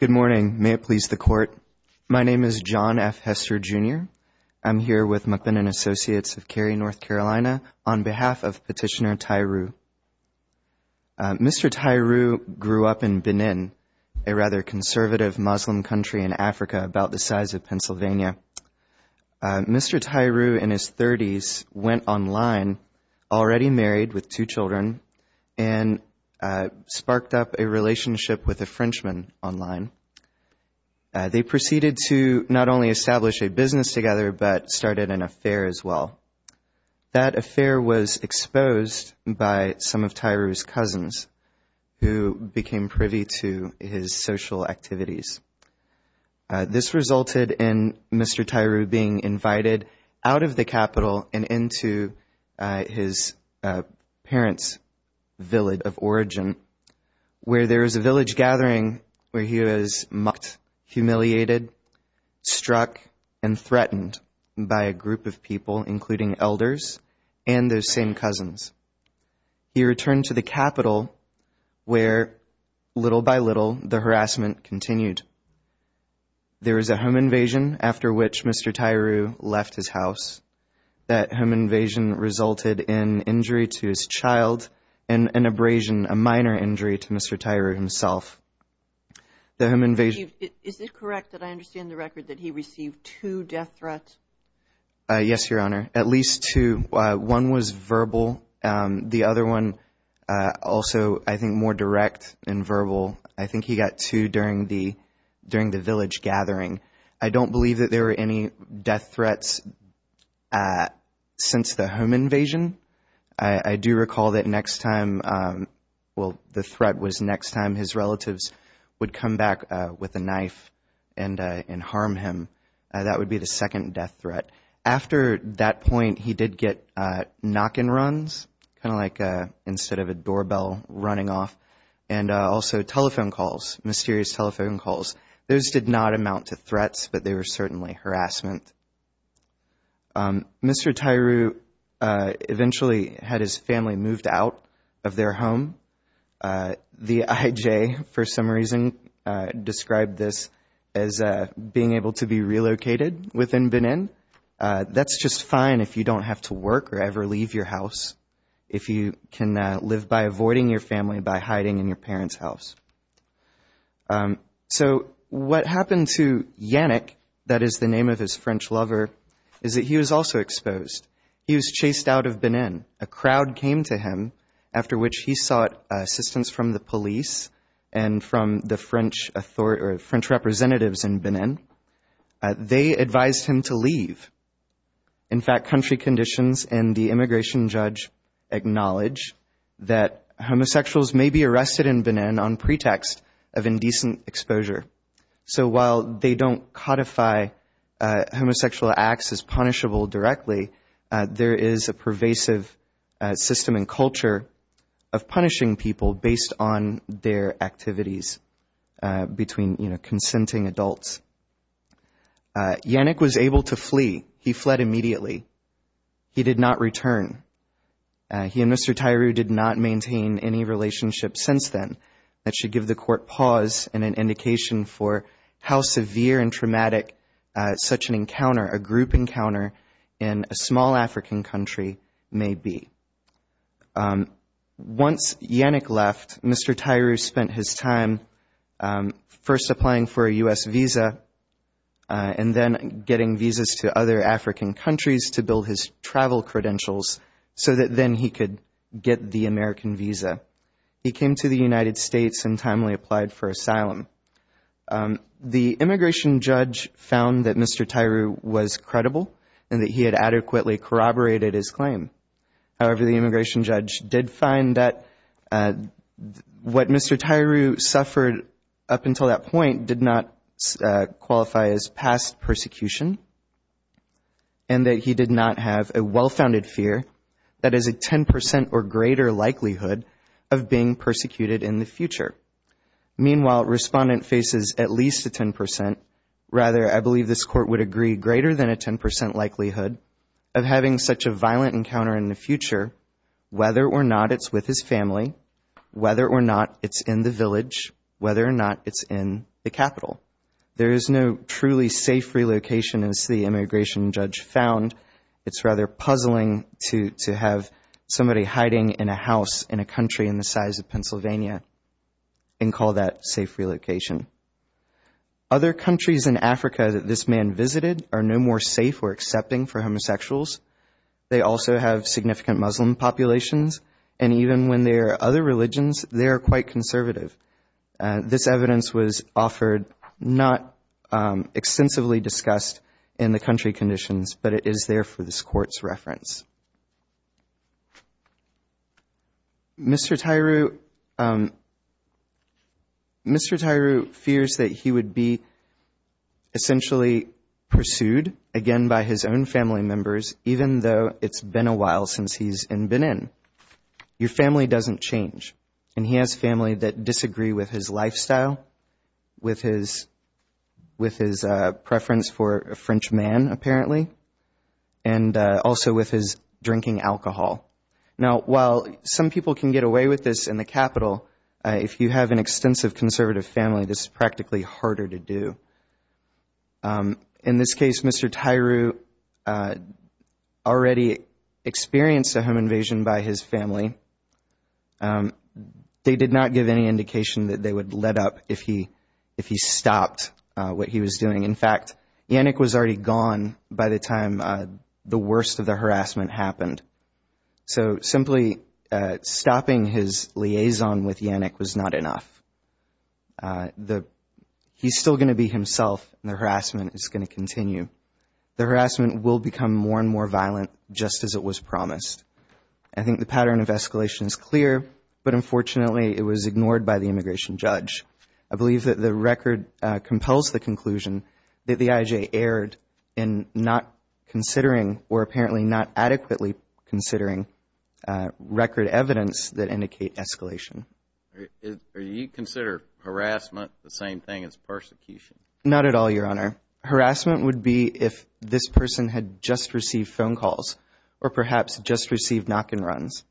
Good morning. May it please the court. My name is John F. Hester Jr. I'm here with McBinnon Associates of Cary, North Carolina on behalf of petitioner Tairou. Mr. Tairou grew up in Benin, a rather conservative Muslim country in Africa about the size of Pennsylvania. Mr. Tairou in his 30s went online, already a relationship with a Frenchman online. They proceeded to not only establish a business together but started an affair as well. That affair was exposed by some of Tairou's cousins who became privy to his social activities. This resulted in Mr. Tairou being invited out of the capital and into his parents' village of where there was a village gathering where he was mocked, humiliated, struck, and threatened by a group of people including elders and those same cousins. He returned to the capital where little by little the harassment continued. There was a home invasion after which Mr. Tairou left his house. That home invasion resulted in injury to his child and an abrasion, a minor injury, to Mr. Tairou himself. The home invasion... Is it correct that I understand the record that he received two death threats? Yes, Your Honor, at least two. One was verbal, the other one also I think more direct and verbal. I think he got two during the during the village gathering. I don't believe that there were any death threats after the home invasion. I do recall that next time, well, the threat was next time his relatives would come back with a knife and and harm him. That would be the second death threat. After that point he did get knock and runs, kind of like instead of a doorbell running off, and also telephone calls, mysterious telephone calls. Those did not amount to threats but they were certainly harassment. Mr. Tairou eventually had his family moved out of their home. The IJ, for some reason, described this as being able to be relocated within Benin. That's just fine if you don't have to work or ever leave your house, if you can live by avoiding your family by hiding in your parents' house. So what happened to Yannick, that is the name of his French lover, is that he was also exposed. He was chased out of Benin. A crowd came to him after which he sought assistance from the police and from the French authorities, French representatives in Benin. They advised him to leave. In fact, country conditions and the immigration judge acknowledge that homosexuals may be arrested in Benin on pretext of homosexual acts as punishable directly. There is a pervasive system and culture of punishing people based on their activities between consenting adults. Yannick was able to flee. He fled immediately. He did not return. He and Mr. Tairou did not maintain any relationship since then. That should give the court pause and an indication for how severe and traumatic such an encounter, a group encounter, in a small African country may be. Once Yannick left, Mr. Tairou spent his time first applying for a U.S. visa and then getting visas to other African countries to build his travel credentials so that then he could get the American visa. He came to the United States and timely applied for asylum. The immigration judge found that Mr. Tairou was credible and that he had adequately corroborated his claim. However, the immigration judge did find that what Mr. Tairou suffered up until that point did not qualify as past greater likelihood of being persecuted in the future. Meanwhile, Respondent faces at least a 10% rather, I believe this court would agree, greater than a 10% likelihood of having such a violent encounter in the future, whether or not it's with his family, whether or not it's in the village, whether or not it's in the capital. There is no truly safe relocation as the immigration judge found it's rather puzzling to have somebody hiding in a house in a country in the size of Pennsylvania and call that safe relocation. Other countries in Africa that this man visited are no more safe or accepting for homosexuals. They also have significant Muslim populations and even when there are other religions they're quite conservative. This evidence was offered not extensively discussed in the country conditions but it is there for this court's reference. Mr. Tairou fears that he would be essentially pursued again by his own family members even though it's been a while since he's been in. Your family doesn't change and he has family that disagree with his lifestyle, with his preference for a French man apparently, and also with his drinking alcohol. Now while some people can get away with this in the capital, if you have an extensive conservative family this is practically harder to do. In this case Mr. Tairou already experienced a home invasion by his family. They did not give any information. In fact Yannick was already gone by the time the worst of the harassment happened. So simply stopping his liaison with Yannick was not enough. He's still going to be himself and the harassment is going to continue. The harassment will become more and more violent just as it was promised. I think the pattern of escalation is clear but unfortunately it was ignored by the immigration judge. I think that the IJ erred in not considering or apparently not adequately considering record evidence that indicate escalation. Are you consider harassment the same thing as persecution? Not at all your honor. Harassment would be if this person had just received phone calls or perhaps just received knock-and-runs.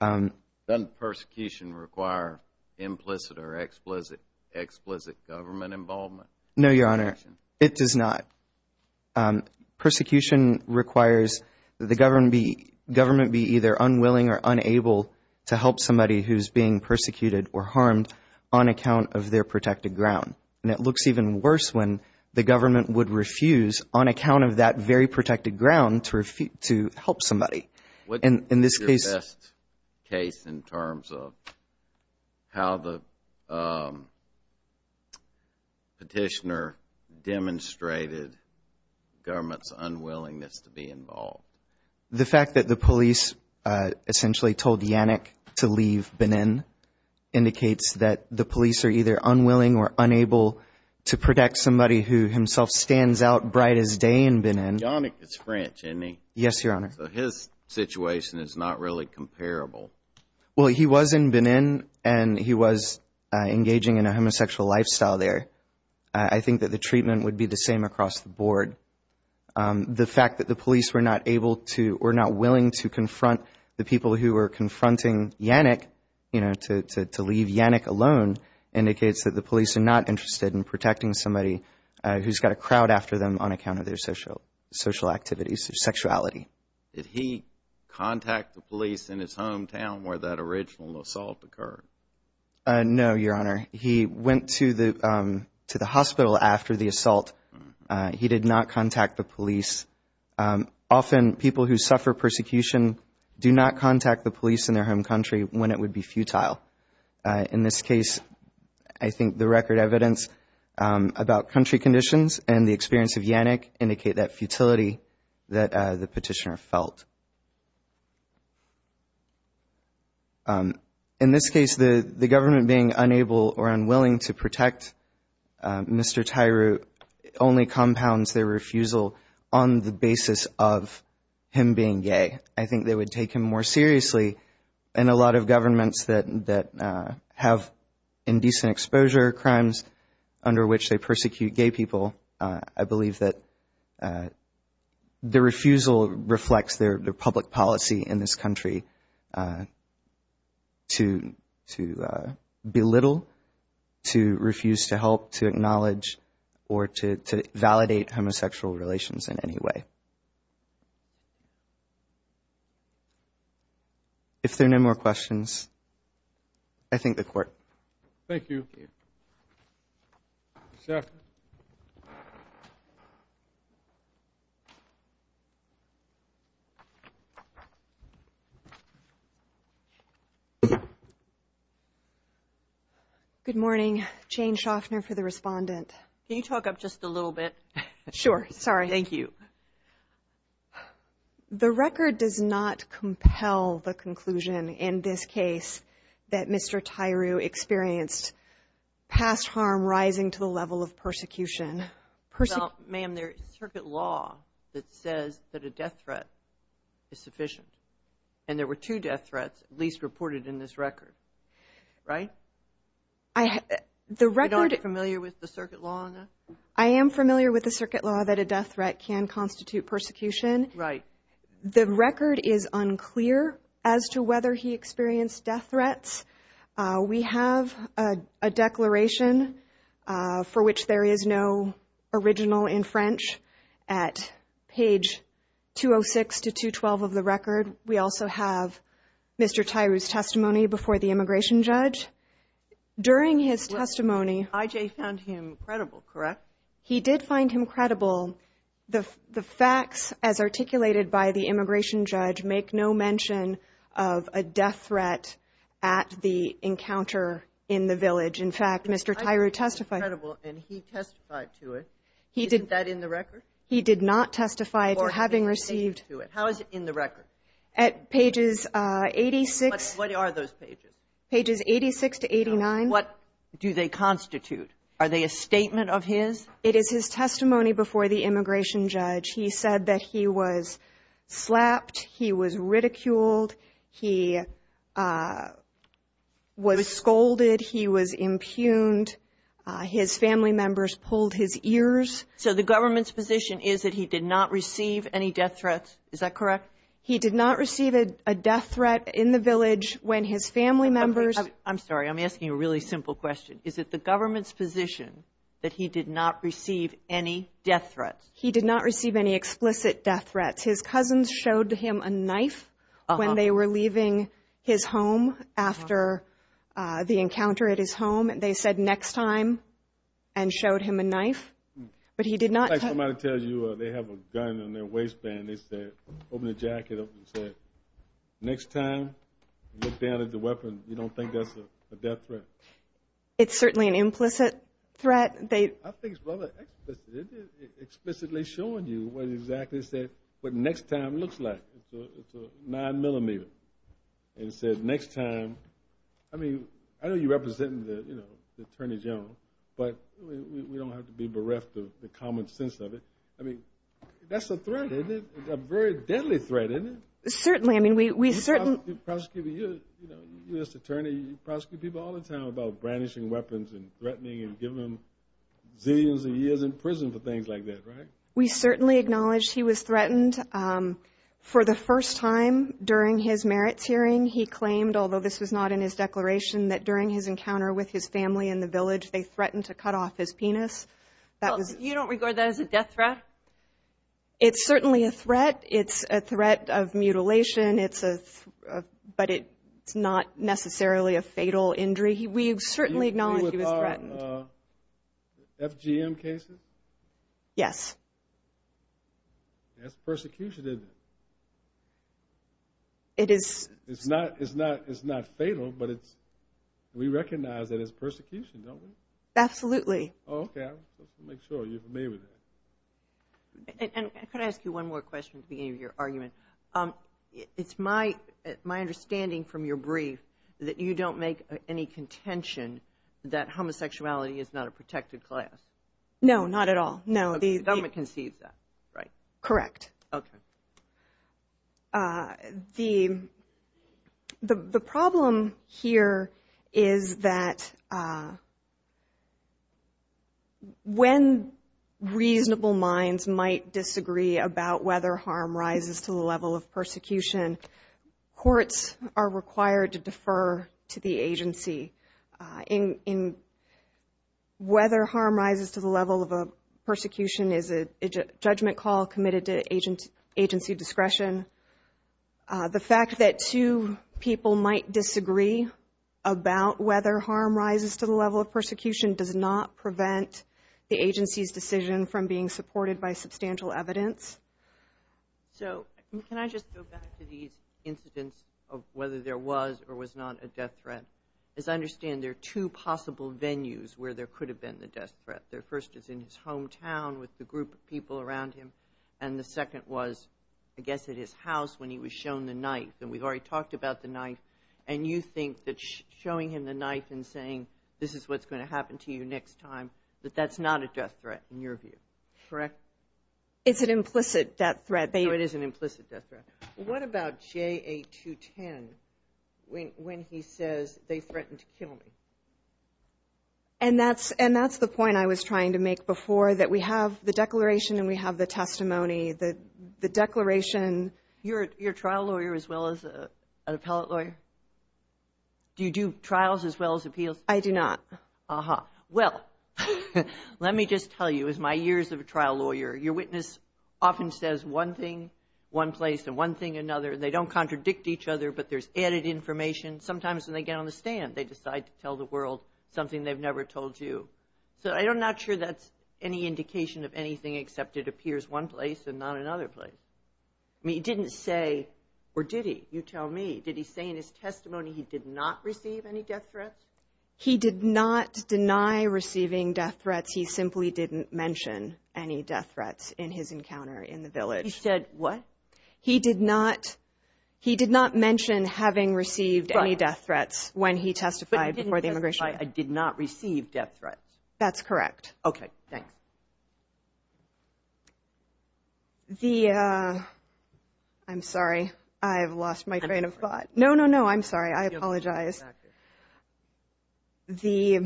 Doesn't persecution require implicit or explicit explicit government involvement? No your honor it does not. Persecution requires that the government be either unwilling or unable to help somebody who's being persecuted or harmed on account of their protected ground. And it looks even worse when the government would refuse on account of that very protected ground to help somebody. What is your best case in terms of how the petitioner demonstrated government's unwillingness to be involved? The fact that the police essentially told Yannick to leave Benin indicates that the police are either unwilling or unable to protect somebody who himself stands out bright as day in any. Yes your honor. So his situation is not really comparable. Well he was in Benin and he was engaging in a homosexual lifestyle there. I think that the treatment would be the same across the board. The fact that the police were not able to or not willing to confront the people who were confronting Yannick you know to leave Yannick alone indicates that the police are not interested in protecting somebody who's got a crowd after them on account of their social activities or sexuality. Did he contact the police in his hometown where that original assault occurred? No your honor. He went to the to the hospital after the assault. He did not contact the police. Often people who suffer persecution do not contact the police in their home country when it would be futile. In this case I think the record evidence about country conditions and the experience of Yannick indicate that futility that the petitioner felt. In this case the the government being unable or unwilling to protect Mr. Tyroot only compounds their refusal on the basis of him being gay. I think they would take him more seriously and a lot of governments that that have indecent exposure crimes under which they persecute gay people I believe that the refusal reflects their public policy in this country to to belittle, to refuse to help, to acknowledge, or to validate homosexual relations in any way. If Thank you. Good morning. Jane Schaffner for the respondent. Can you talk up just a little bit? Sure. Sorry. Thank you. The record does not compel the conclusion in this case that Mr. Tyroo experienced past harm rising to the level of persecution. Well ma'am there is circuit law that says that a death threat is sufficient and there were two death threats at least reported in this record, right? I have the record You're not familiar with the circuit law on that? I am familiar with the circuit law that a death threat can constitute persecution. Right. The record is unclear as to whether he experienced death threats. We have a declaration for which there is no original in French at page 206 to 212 of the record. We also have Mr. Tyroo's testimony before the immigration judge. During his testimony IJ found him credible, correct? He did find him credible. The facts as articulated by the immigration judge make no mention of a death threat at the encounter in the village. In fact, Mr. Tyroo testified. He testified to it. Isn't that in the record? He did not testify to having received. How is it in the record? At pages 86. What are those pages? Pages 86 to 89. What do they constitute? Are they a statement of his? It is his testimony before the immigration judge. He said that he was slapped, he was ridiculed, he was scolded, he was impugned, his family members pulled his ears. So the government's position is that he did not receive any death threats, is that correct? He did not receive a death threat in the village when his family members. I'm sorry, I'm asking you a really simple question. Is it the government's position that he did not receive any death threats? He did not showed him a knife when they were leaving his home after the encounter at his home. They said next time and showed him a knife, but he did not. Like somebody tells you they have a gun in their waistband, they said, open the jacket up and said, next time you look down at the weapon, you don't think that's a death threat. It's certainly an implicit threat. I think it's rather explicitly showing you what exactly said, what next time looks like. It's a nine millimeter and said next time. I mean, I know you're representing the, you know, the Attorney General, but we don't have to be bereft of the common sense of it. I mean, that's a threat, isn't it? A very deadly threat, isn't it? Certainly, I mean we certainly. You know, you're a U.S. Attorney, you prosecute people all the time about brandishing weapons and threatening and giving them zillions of years in prison for things like that, right? We certainly acknowledge he was threatened for the first time during his merits hearing. He claimed, although this was not in his declaration, that during his encounter with his family in the village, they threatened to cut off his penis. You don't regard that as a death threat? It's certainly a threat. It's a threat of mutilation, but it's not necessarily a fatal injury. We certainly acknowledge he was threatened. FGM cases? Yes. That's persecution, isn't it? It is. It's not, it's not, it's not fatal, but it's, we recognize that it's persecution, don't we? Absolutely. Okay, I'll make sure you're familiar with that. And I could ask you one more question at the beginning of your brief, that you don't make any contention that homosexuality is not a protected class? No, not at all, no. The government concedes that, right? Correct. Okay. The, the problem here is that when reasonable minds might disagree about whether harm rises to the level of persecution, courts are required to defer to the agency. In, in, whether harm rises to the level of a persecution is a judgment call committed to agent, agency discretion. The fact that two people might disagree about whether harm rises to the level of persecution does not So, can I just go back to these incidents of whether there was or was not a death threat? As I understand, there are two possible venues where there could have been the death threat. The first is in his hometown with the group of people around him, and the second was, I guess, at his house when he was shown the knife. And we've already talked about the knife, and you think that showing him the knife and saying, this is what's going to happen to you next time, that that's not a death threat in your view, correct? It's an implicit death threat. So it is an implicit death threat. What about JA-210 when, when he says, they threatened to kill me? And that's, and that's the point I was trying to make before, that we have the declaration and we have the testimony. The, the declaration... You're, you're a trial lawyer as well as an appellate lawyer? Do you do trials as well as appeals? I do not. Uh-huh. Well, let me just tell you, as my years of a trial lawyer, your witness often says one thing, one place, and one thing, another. They don't contradict each other, but there's added information. Sometimes when they get on the stand, they decide to tell the world something they've never told you. So I'm not sure that's any indication of anything except it appears one place and not another place. I mean, he didn't say, or did he, you tell me, did he say in his testimony he did not receive any death threats? He did not deny receiving death threats. He simply didn't mention any death threats in his encounter in the village. He said what? He did not, he did not mention having received any death threats when he testified before the immigration. I did not receive death threats. That's correct. Okay, thanks. The, I'm sorry, I've lost my train of thought. No, no, no, I'm sorry, I apologize. The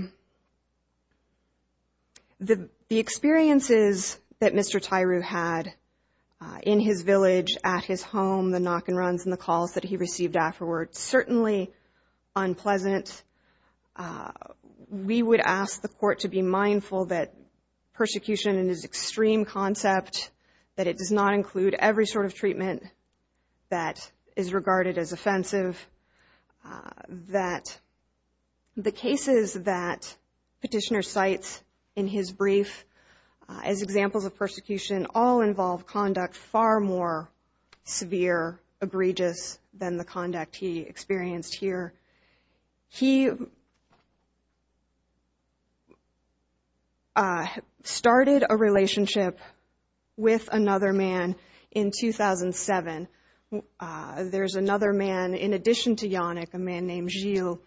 experiences that Mr. Tyru had in his village, at his home, the knock and runs, and the calls that he received afterward, certainly unpleasant. We would ask the court to be mindful that persecution in his extreme concept, that it does not include every sort of treatment that is regarded as offensive, that the cases that petitioner cites in his brief as examples of persecution all involve conduct far more severe, egregious than the conduct he experienced here. He started a relationship with another man in 2007. There's another man in addition to Yannick, a man named Gilles,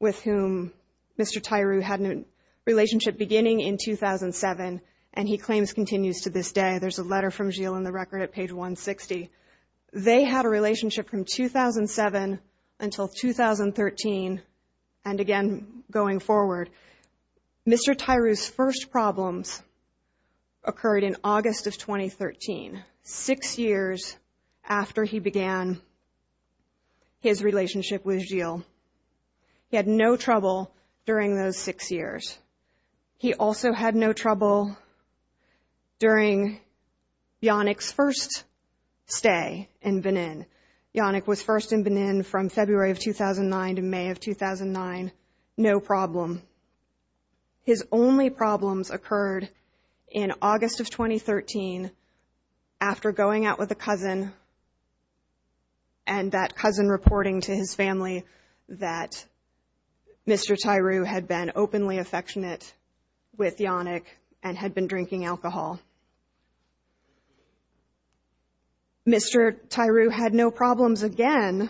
with whom Mr. Tyru had a relationship beginning in 2007 and he claims continues to this day. There's a letter from Gilles in the record at page 160. They had a relationship from 2007 until 2013 and again going forward. Mr. Tyru's first problems occurred in August of 2013. His relationship with Gilles. He had no trouble during those six years. He also had no trouble during Yannick's first stay in Benin. Yannick was first in Benin from February of 2009 to May of 2009. No problem. His only problems occurred in August of 2014, according to his family, that Mr. Tyru had been openly affectionate with Yannick and had been drinking alcohol. Mr. Tyru had no problems again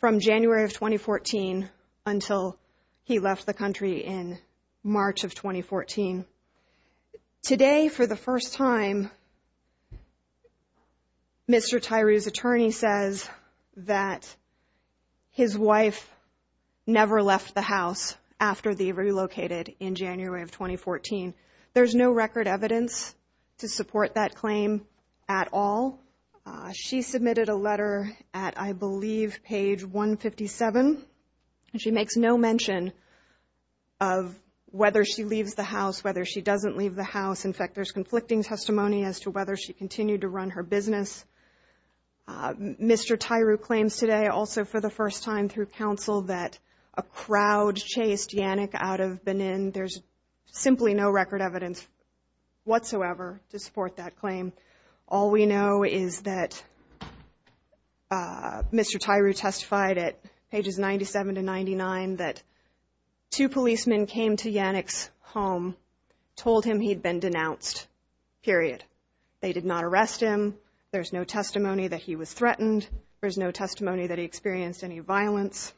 from January of 2014 until he left the country in March of 2014. Today, for the first time, Mr. Tyru's attorney says that his wife never left the house after they relocated in January of 2014. There's no record evidence to support that claim at all. She submitted a letter at, I believe, page 157. She makes no mention of whether she leaves the house, whether she doesn't leave the house. In fact, there's conflicting testimony as to whether she for the first time through counsel that a crowd chased Yannick out of Benin. There's simply no record evidence whatsoever to support that claim. All we know is that Mr. Tyru testified at pages 97 to 99 that two policemen came to Yannick's home, told him he'd been denounced, period. They did not arrest him. There's no testimony that he was threatened. There's no testimony that he experienced any violence.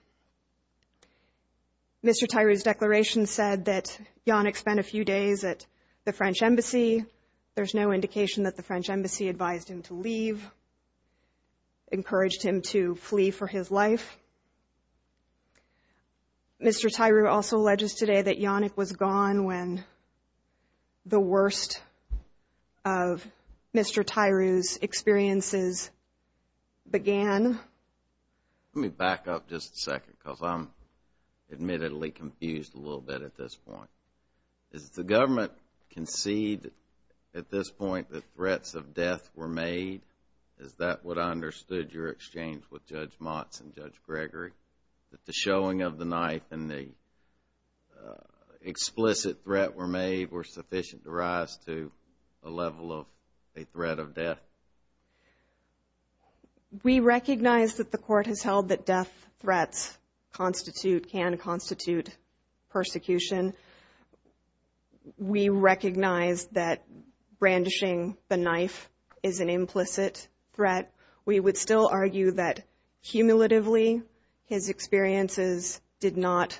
Mr. Tyru's declaration said that Yannick spent a few days at the French Embassy. There's no indication that the French Embassy advised him to leave, encouraged him to flee for his life. Mr. Tyru also alleges today that began. Let me back up just a second because I'm admittedly confused a little bit at this point. Does the government concede at this point that threats of death were made? Is that what I understood your exchange with Judge Motz and Judge Gregory? That the showing of the knife and the explicit threat were made were sufficient to rise to a level of a threat of death? We recognize that the court has held that death threats constitute, can constitute, persecution. We recognize that brandishing the knife is an implicit threat. We would still argue that cumulatively his experiences did not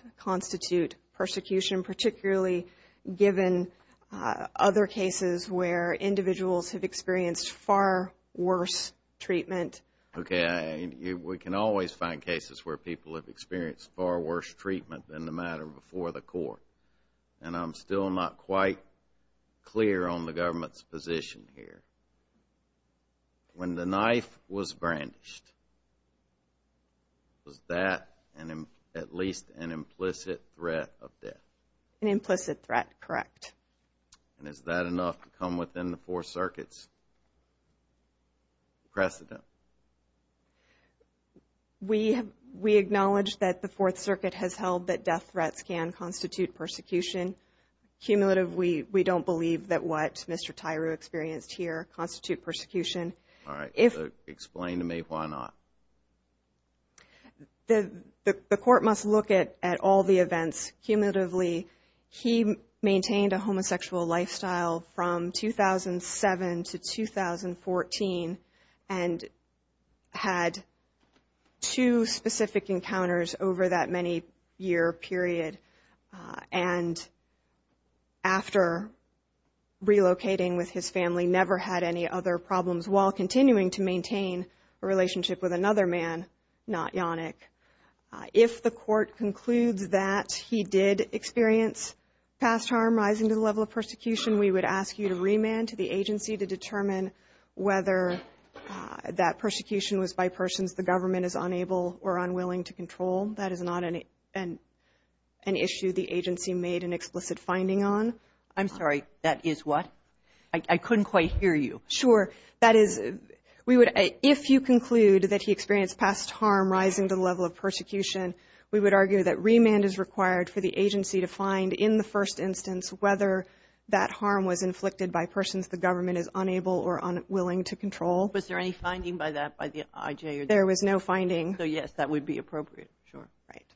given other cases where individuals have experienced far worse treatment. Okay, we can always find cases where people have experienced far worse treatment than the matter before the court. And I'm still not quite clear on the government's position here. When the knife was brandished, was that at least an implicit threat of death? An implicit threat, correct. And is that enough to come within the four circuits precedent? We acknowledge that the Fourth Circuit has held that death threats can constitute persecution. Cumulative, we don't believe that what Mr. Tyru experienced here constitute persecution. When we look at all the events cumulatively, he maintained a homosexual lifestyle from 2007 to 2014 and had two specific encounters over that many year period. And after relocating with his family, never had any other problems while continuing to maintain a relationship with another man, not Yannick. If the court concludes that he did experience past harm rising to the level of persecution, we would ask you to remand to the agency to determine whether that persecution was by persons the government is unable or unwilling to control. That is not an issue the agency made an explicit finding on. I'm sorry. That is what? I couldn't quite hear you. Sure. That is, we would, if you conclude that he experienced past harm rising to the level of persecution, we would argue that remand is required for the agency to find in the first instance whether that harm was inflicted by persons the government is unable or unwilling to control. Was there any finding by that, by the IJ? There was no finding. So yes, that would be appropriate. Sure. Right.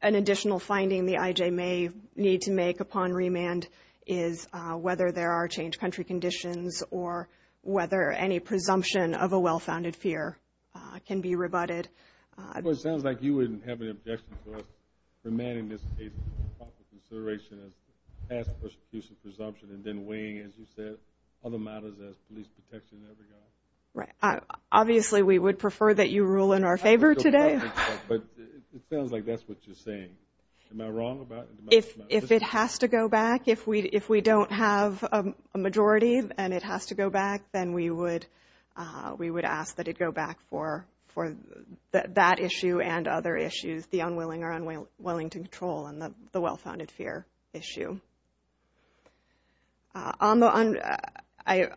An additional finding the IJ may need to make upon remand is whether there are changed country conditions or whether any presumption of a well-founded fear can be rebutted. Well, it sounds like you wouldn't have an objection to us remanding this case with proper consideration as past persecution presumption and then weighing, as you said, other matters as police protection in every regard. Right. Obviously, we would prefer that you rule in our favor today. But it sounds like that's what you're saying. Am I wrong about it? If it has to go back, if we if we don't have a majority and it has to go back, then we would we would ask that it go back for that issue and other issues, the unwilling or unwilling to control and the well-founded fear issue. I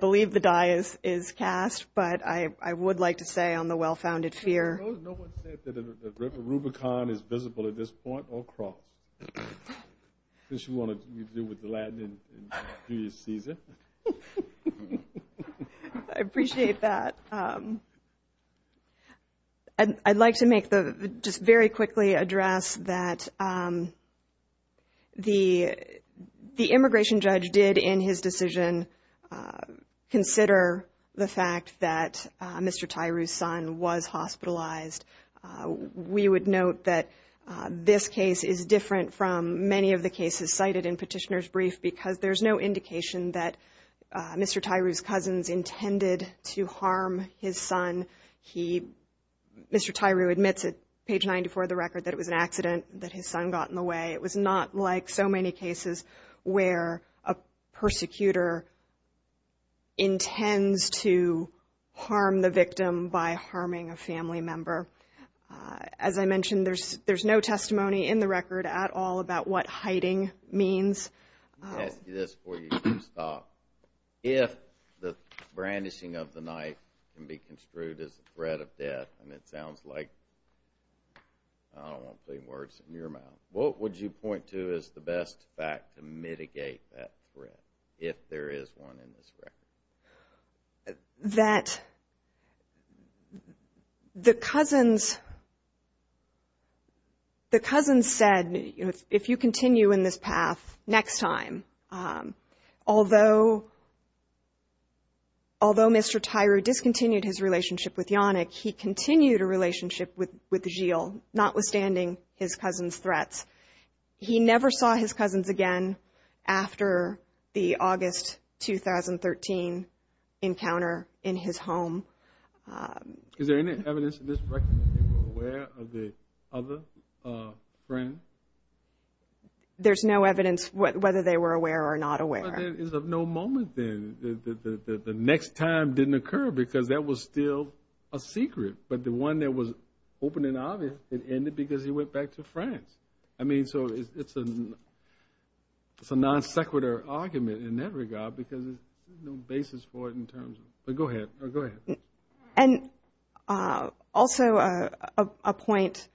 believe the die is cast, but I would like to say on the well-founded fear. I suppose no one said that a Rubicon is visible at this point or cross. I guess you want to deal with the Latin and do your Caesar. I appreciate that. And I'd like to make the just very quickly address that. The the immigration judge did in his decision consider the fact that Mr. Tyree's son was hospitalized. We would note that this case is different from many of the cases cited in Petitioner's Brief because there's no indication that Mr. Tyree's cousins intended to harm his son. He Mr. Tyree admits it page ninety for the record that it was an accident that his son got in the way. It was not like so many cases where a persecutor intends to harm the victim by harming a family member. As I mentioned, there's there's no testimony in the record at all about what hiding means. This is for you. If the brandishing of the knife can be construed as a threat of death, and it sounds like I don't want clean words in your mouth. What would you point to as the best fact to mitigate that threat, if there is one in this record? That the cousins the cousins said, if you continue in this path next time, although Mr. Tyree discontinued his relationship with Yannick, he continued a relationship with Gilles, notwithstanding his cousin's threats. He never saw his cousins again after the August 2013 encounter in his home. Is there any evidence in this record that they were aware of the other friend? There's no evidence whether they were aware or not aware. There is of no moment then that the next time didn't occur, because that was still a secret. But the one that was open and obvious, it ended because he went back to France. It's a non sequitur argument in that regard, because there's no basis for it in terms of Go ahead. Also a point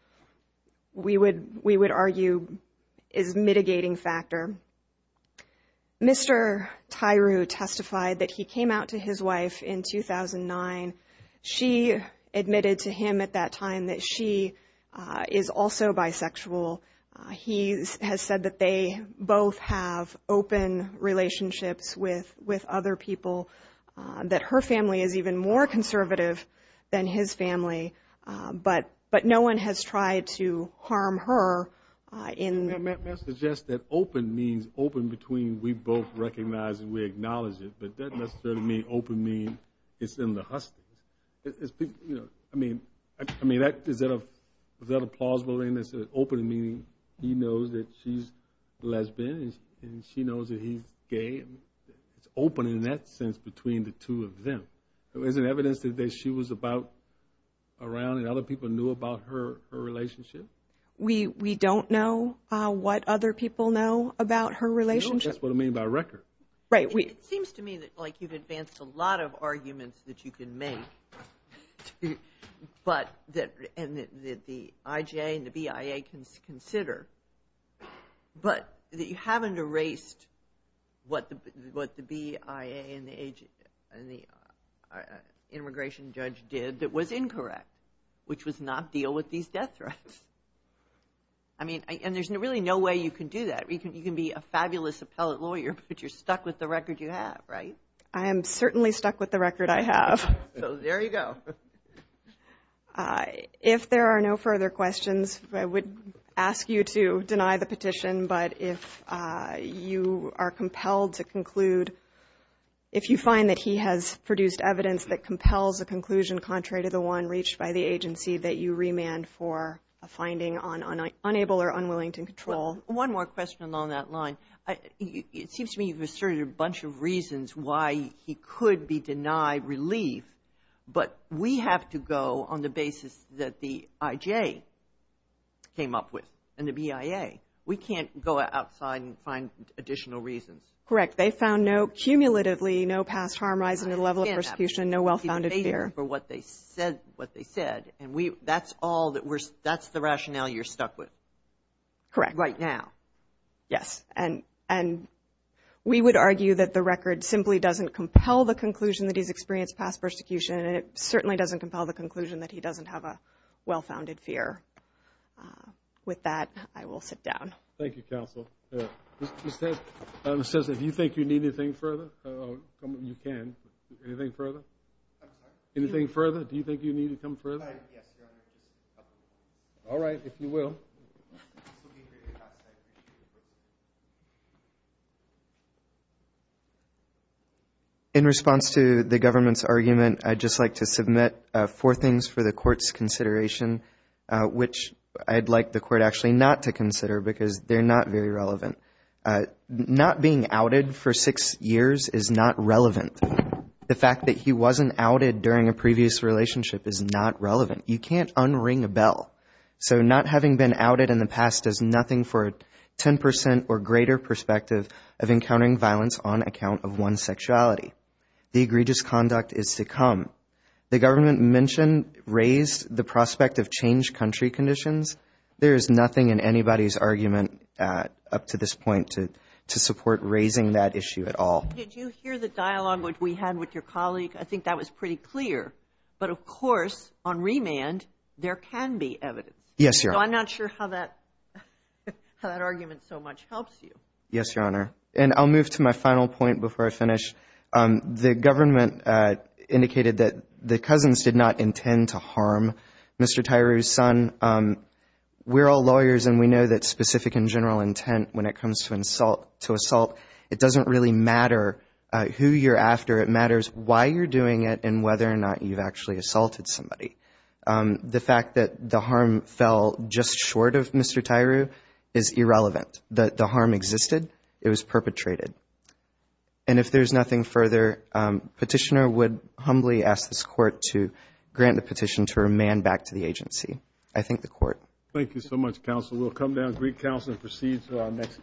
we would argue is mitigating factor. Mr. Tyree testified that he came out to his wife in 2009. She admitted to him at that time that she is also bisexual. He has said that they both have open relationships with other people. That her family is even more conservative than his family. But no one has tried to harm her. Open between we both recognize and we acknowledge it, but that doesn't necessarily mean it's in the hustings. He knows that she's lesbian and she knows that he's gay. It's open in that sense between the two of them. There's no evidence that she was around and other people knew about her relationship? We don't know what other people know about her relationship. It seems to me that you've advanced a lot of arguments that you can make. But that the IJ and the BIA can consider. But that you haven't erased what the BIA and the immigration judge did that was incorrect, which was not deal with these death threats. There's really no way you can do that. You can be a fabulous appellate lawyer, but you're stuck with the record you have, right? I am certainly stuck with the record I have. If there are no further questions, I would ask you to deny the petition. But if you are compelled to conclude, if you find that he has produced evidence that compels a conclusion contrary to the one reached by the agency, that you remand for a finding on unable or unwilling to control. One more question along that line. It seems to me you've asserted a bunch of reasons why he could be denied relief. But we have to go on the basis that the IJ came up with and the BIA. We can't go outside and find additional reasons. Correct. They found cumulatively no past harm, rise in the level of persecution, no well-founded fear. That's the rationale you're stuck with? Yes. And we would argue that the record simply doesn't compel the conclusion that he's experienced past harm. Thank you, counsel. Mr. Sess, if you think you need anything further, you can. Anything further? Anything further? Do you think you need to come further? All right, if you will. In response to the government's argument, I'd just like to submit four things for the court's consideration, which I'd like the court actually not to consider, because they're not very relevant. Not being outed for six years is not relevant. The fact that he wasn't outed during a previous relationship is not relevant. You can't unring a bell. So not having been outed in the past does nothing for a 10 percent or greater perspective of encountering violence on account of one's sexuality. The egregious conduct is to come. The government mentioned, raised the prospect of changed country conditions. There is nothing in anybody's argument up to this point to support raising that issue at all. Did you hear the dialogue which we had with your colleague? I think that was pretty clear. But of course, on remand, there can be evidence. So I'm not sure how that argument so much helps you. Yes, Your Honor. And I'll move to my final point before I finish. The government indicated that the cousins did not intend to harm Mr. Tyru's son. We're all lawyers, and we know that specific and general intent when it comes to assault, it doesn't really matter who you're after. It matters why you're doing it and whether or not you've actually assaulted somebody. The fact that the harm fell just short of Mr. Tyru is irrelevant. The harm existed. It was perpetrated. And if there's nothing further, Petitioner would humbly ask this Court to grant the petition to remand back to the agency. I thank the Court. Thank you so much, Counsel. We'll come down to recounsel and proceed to our next case.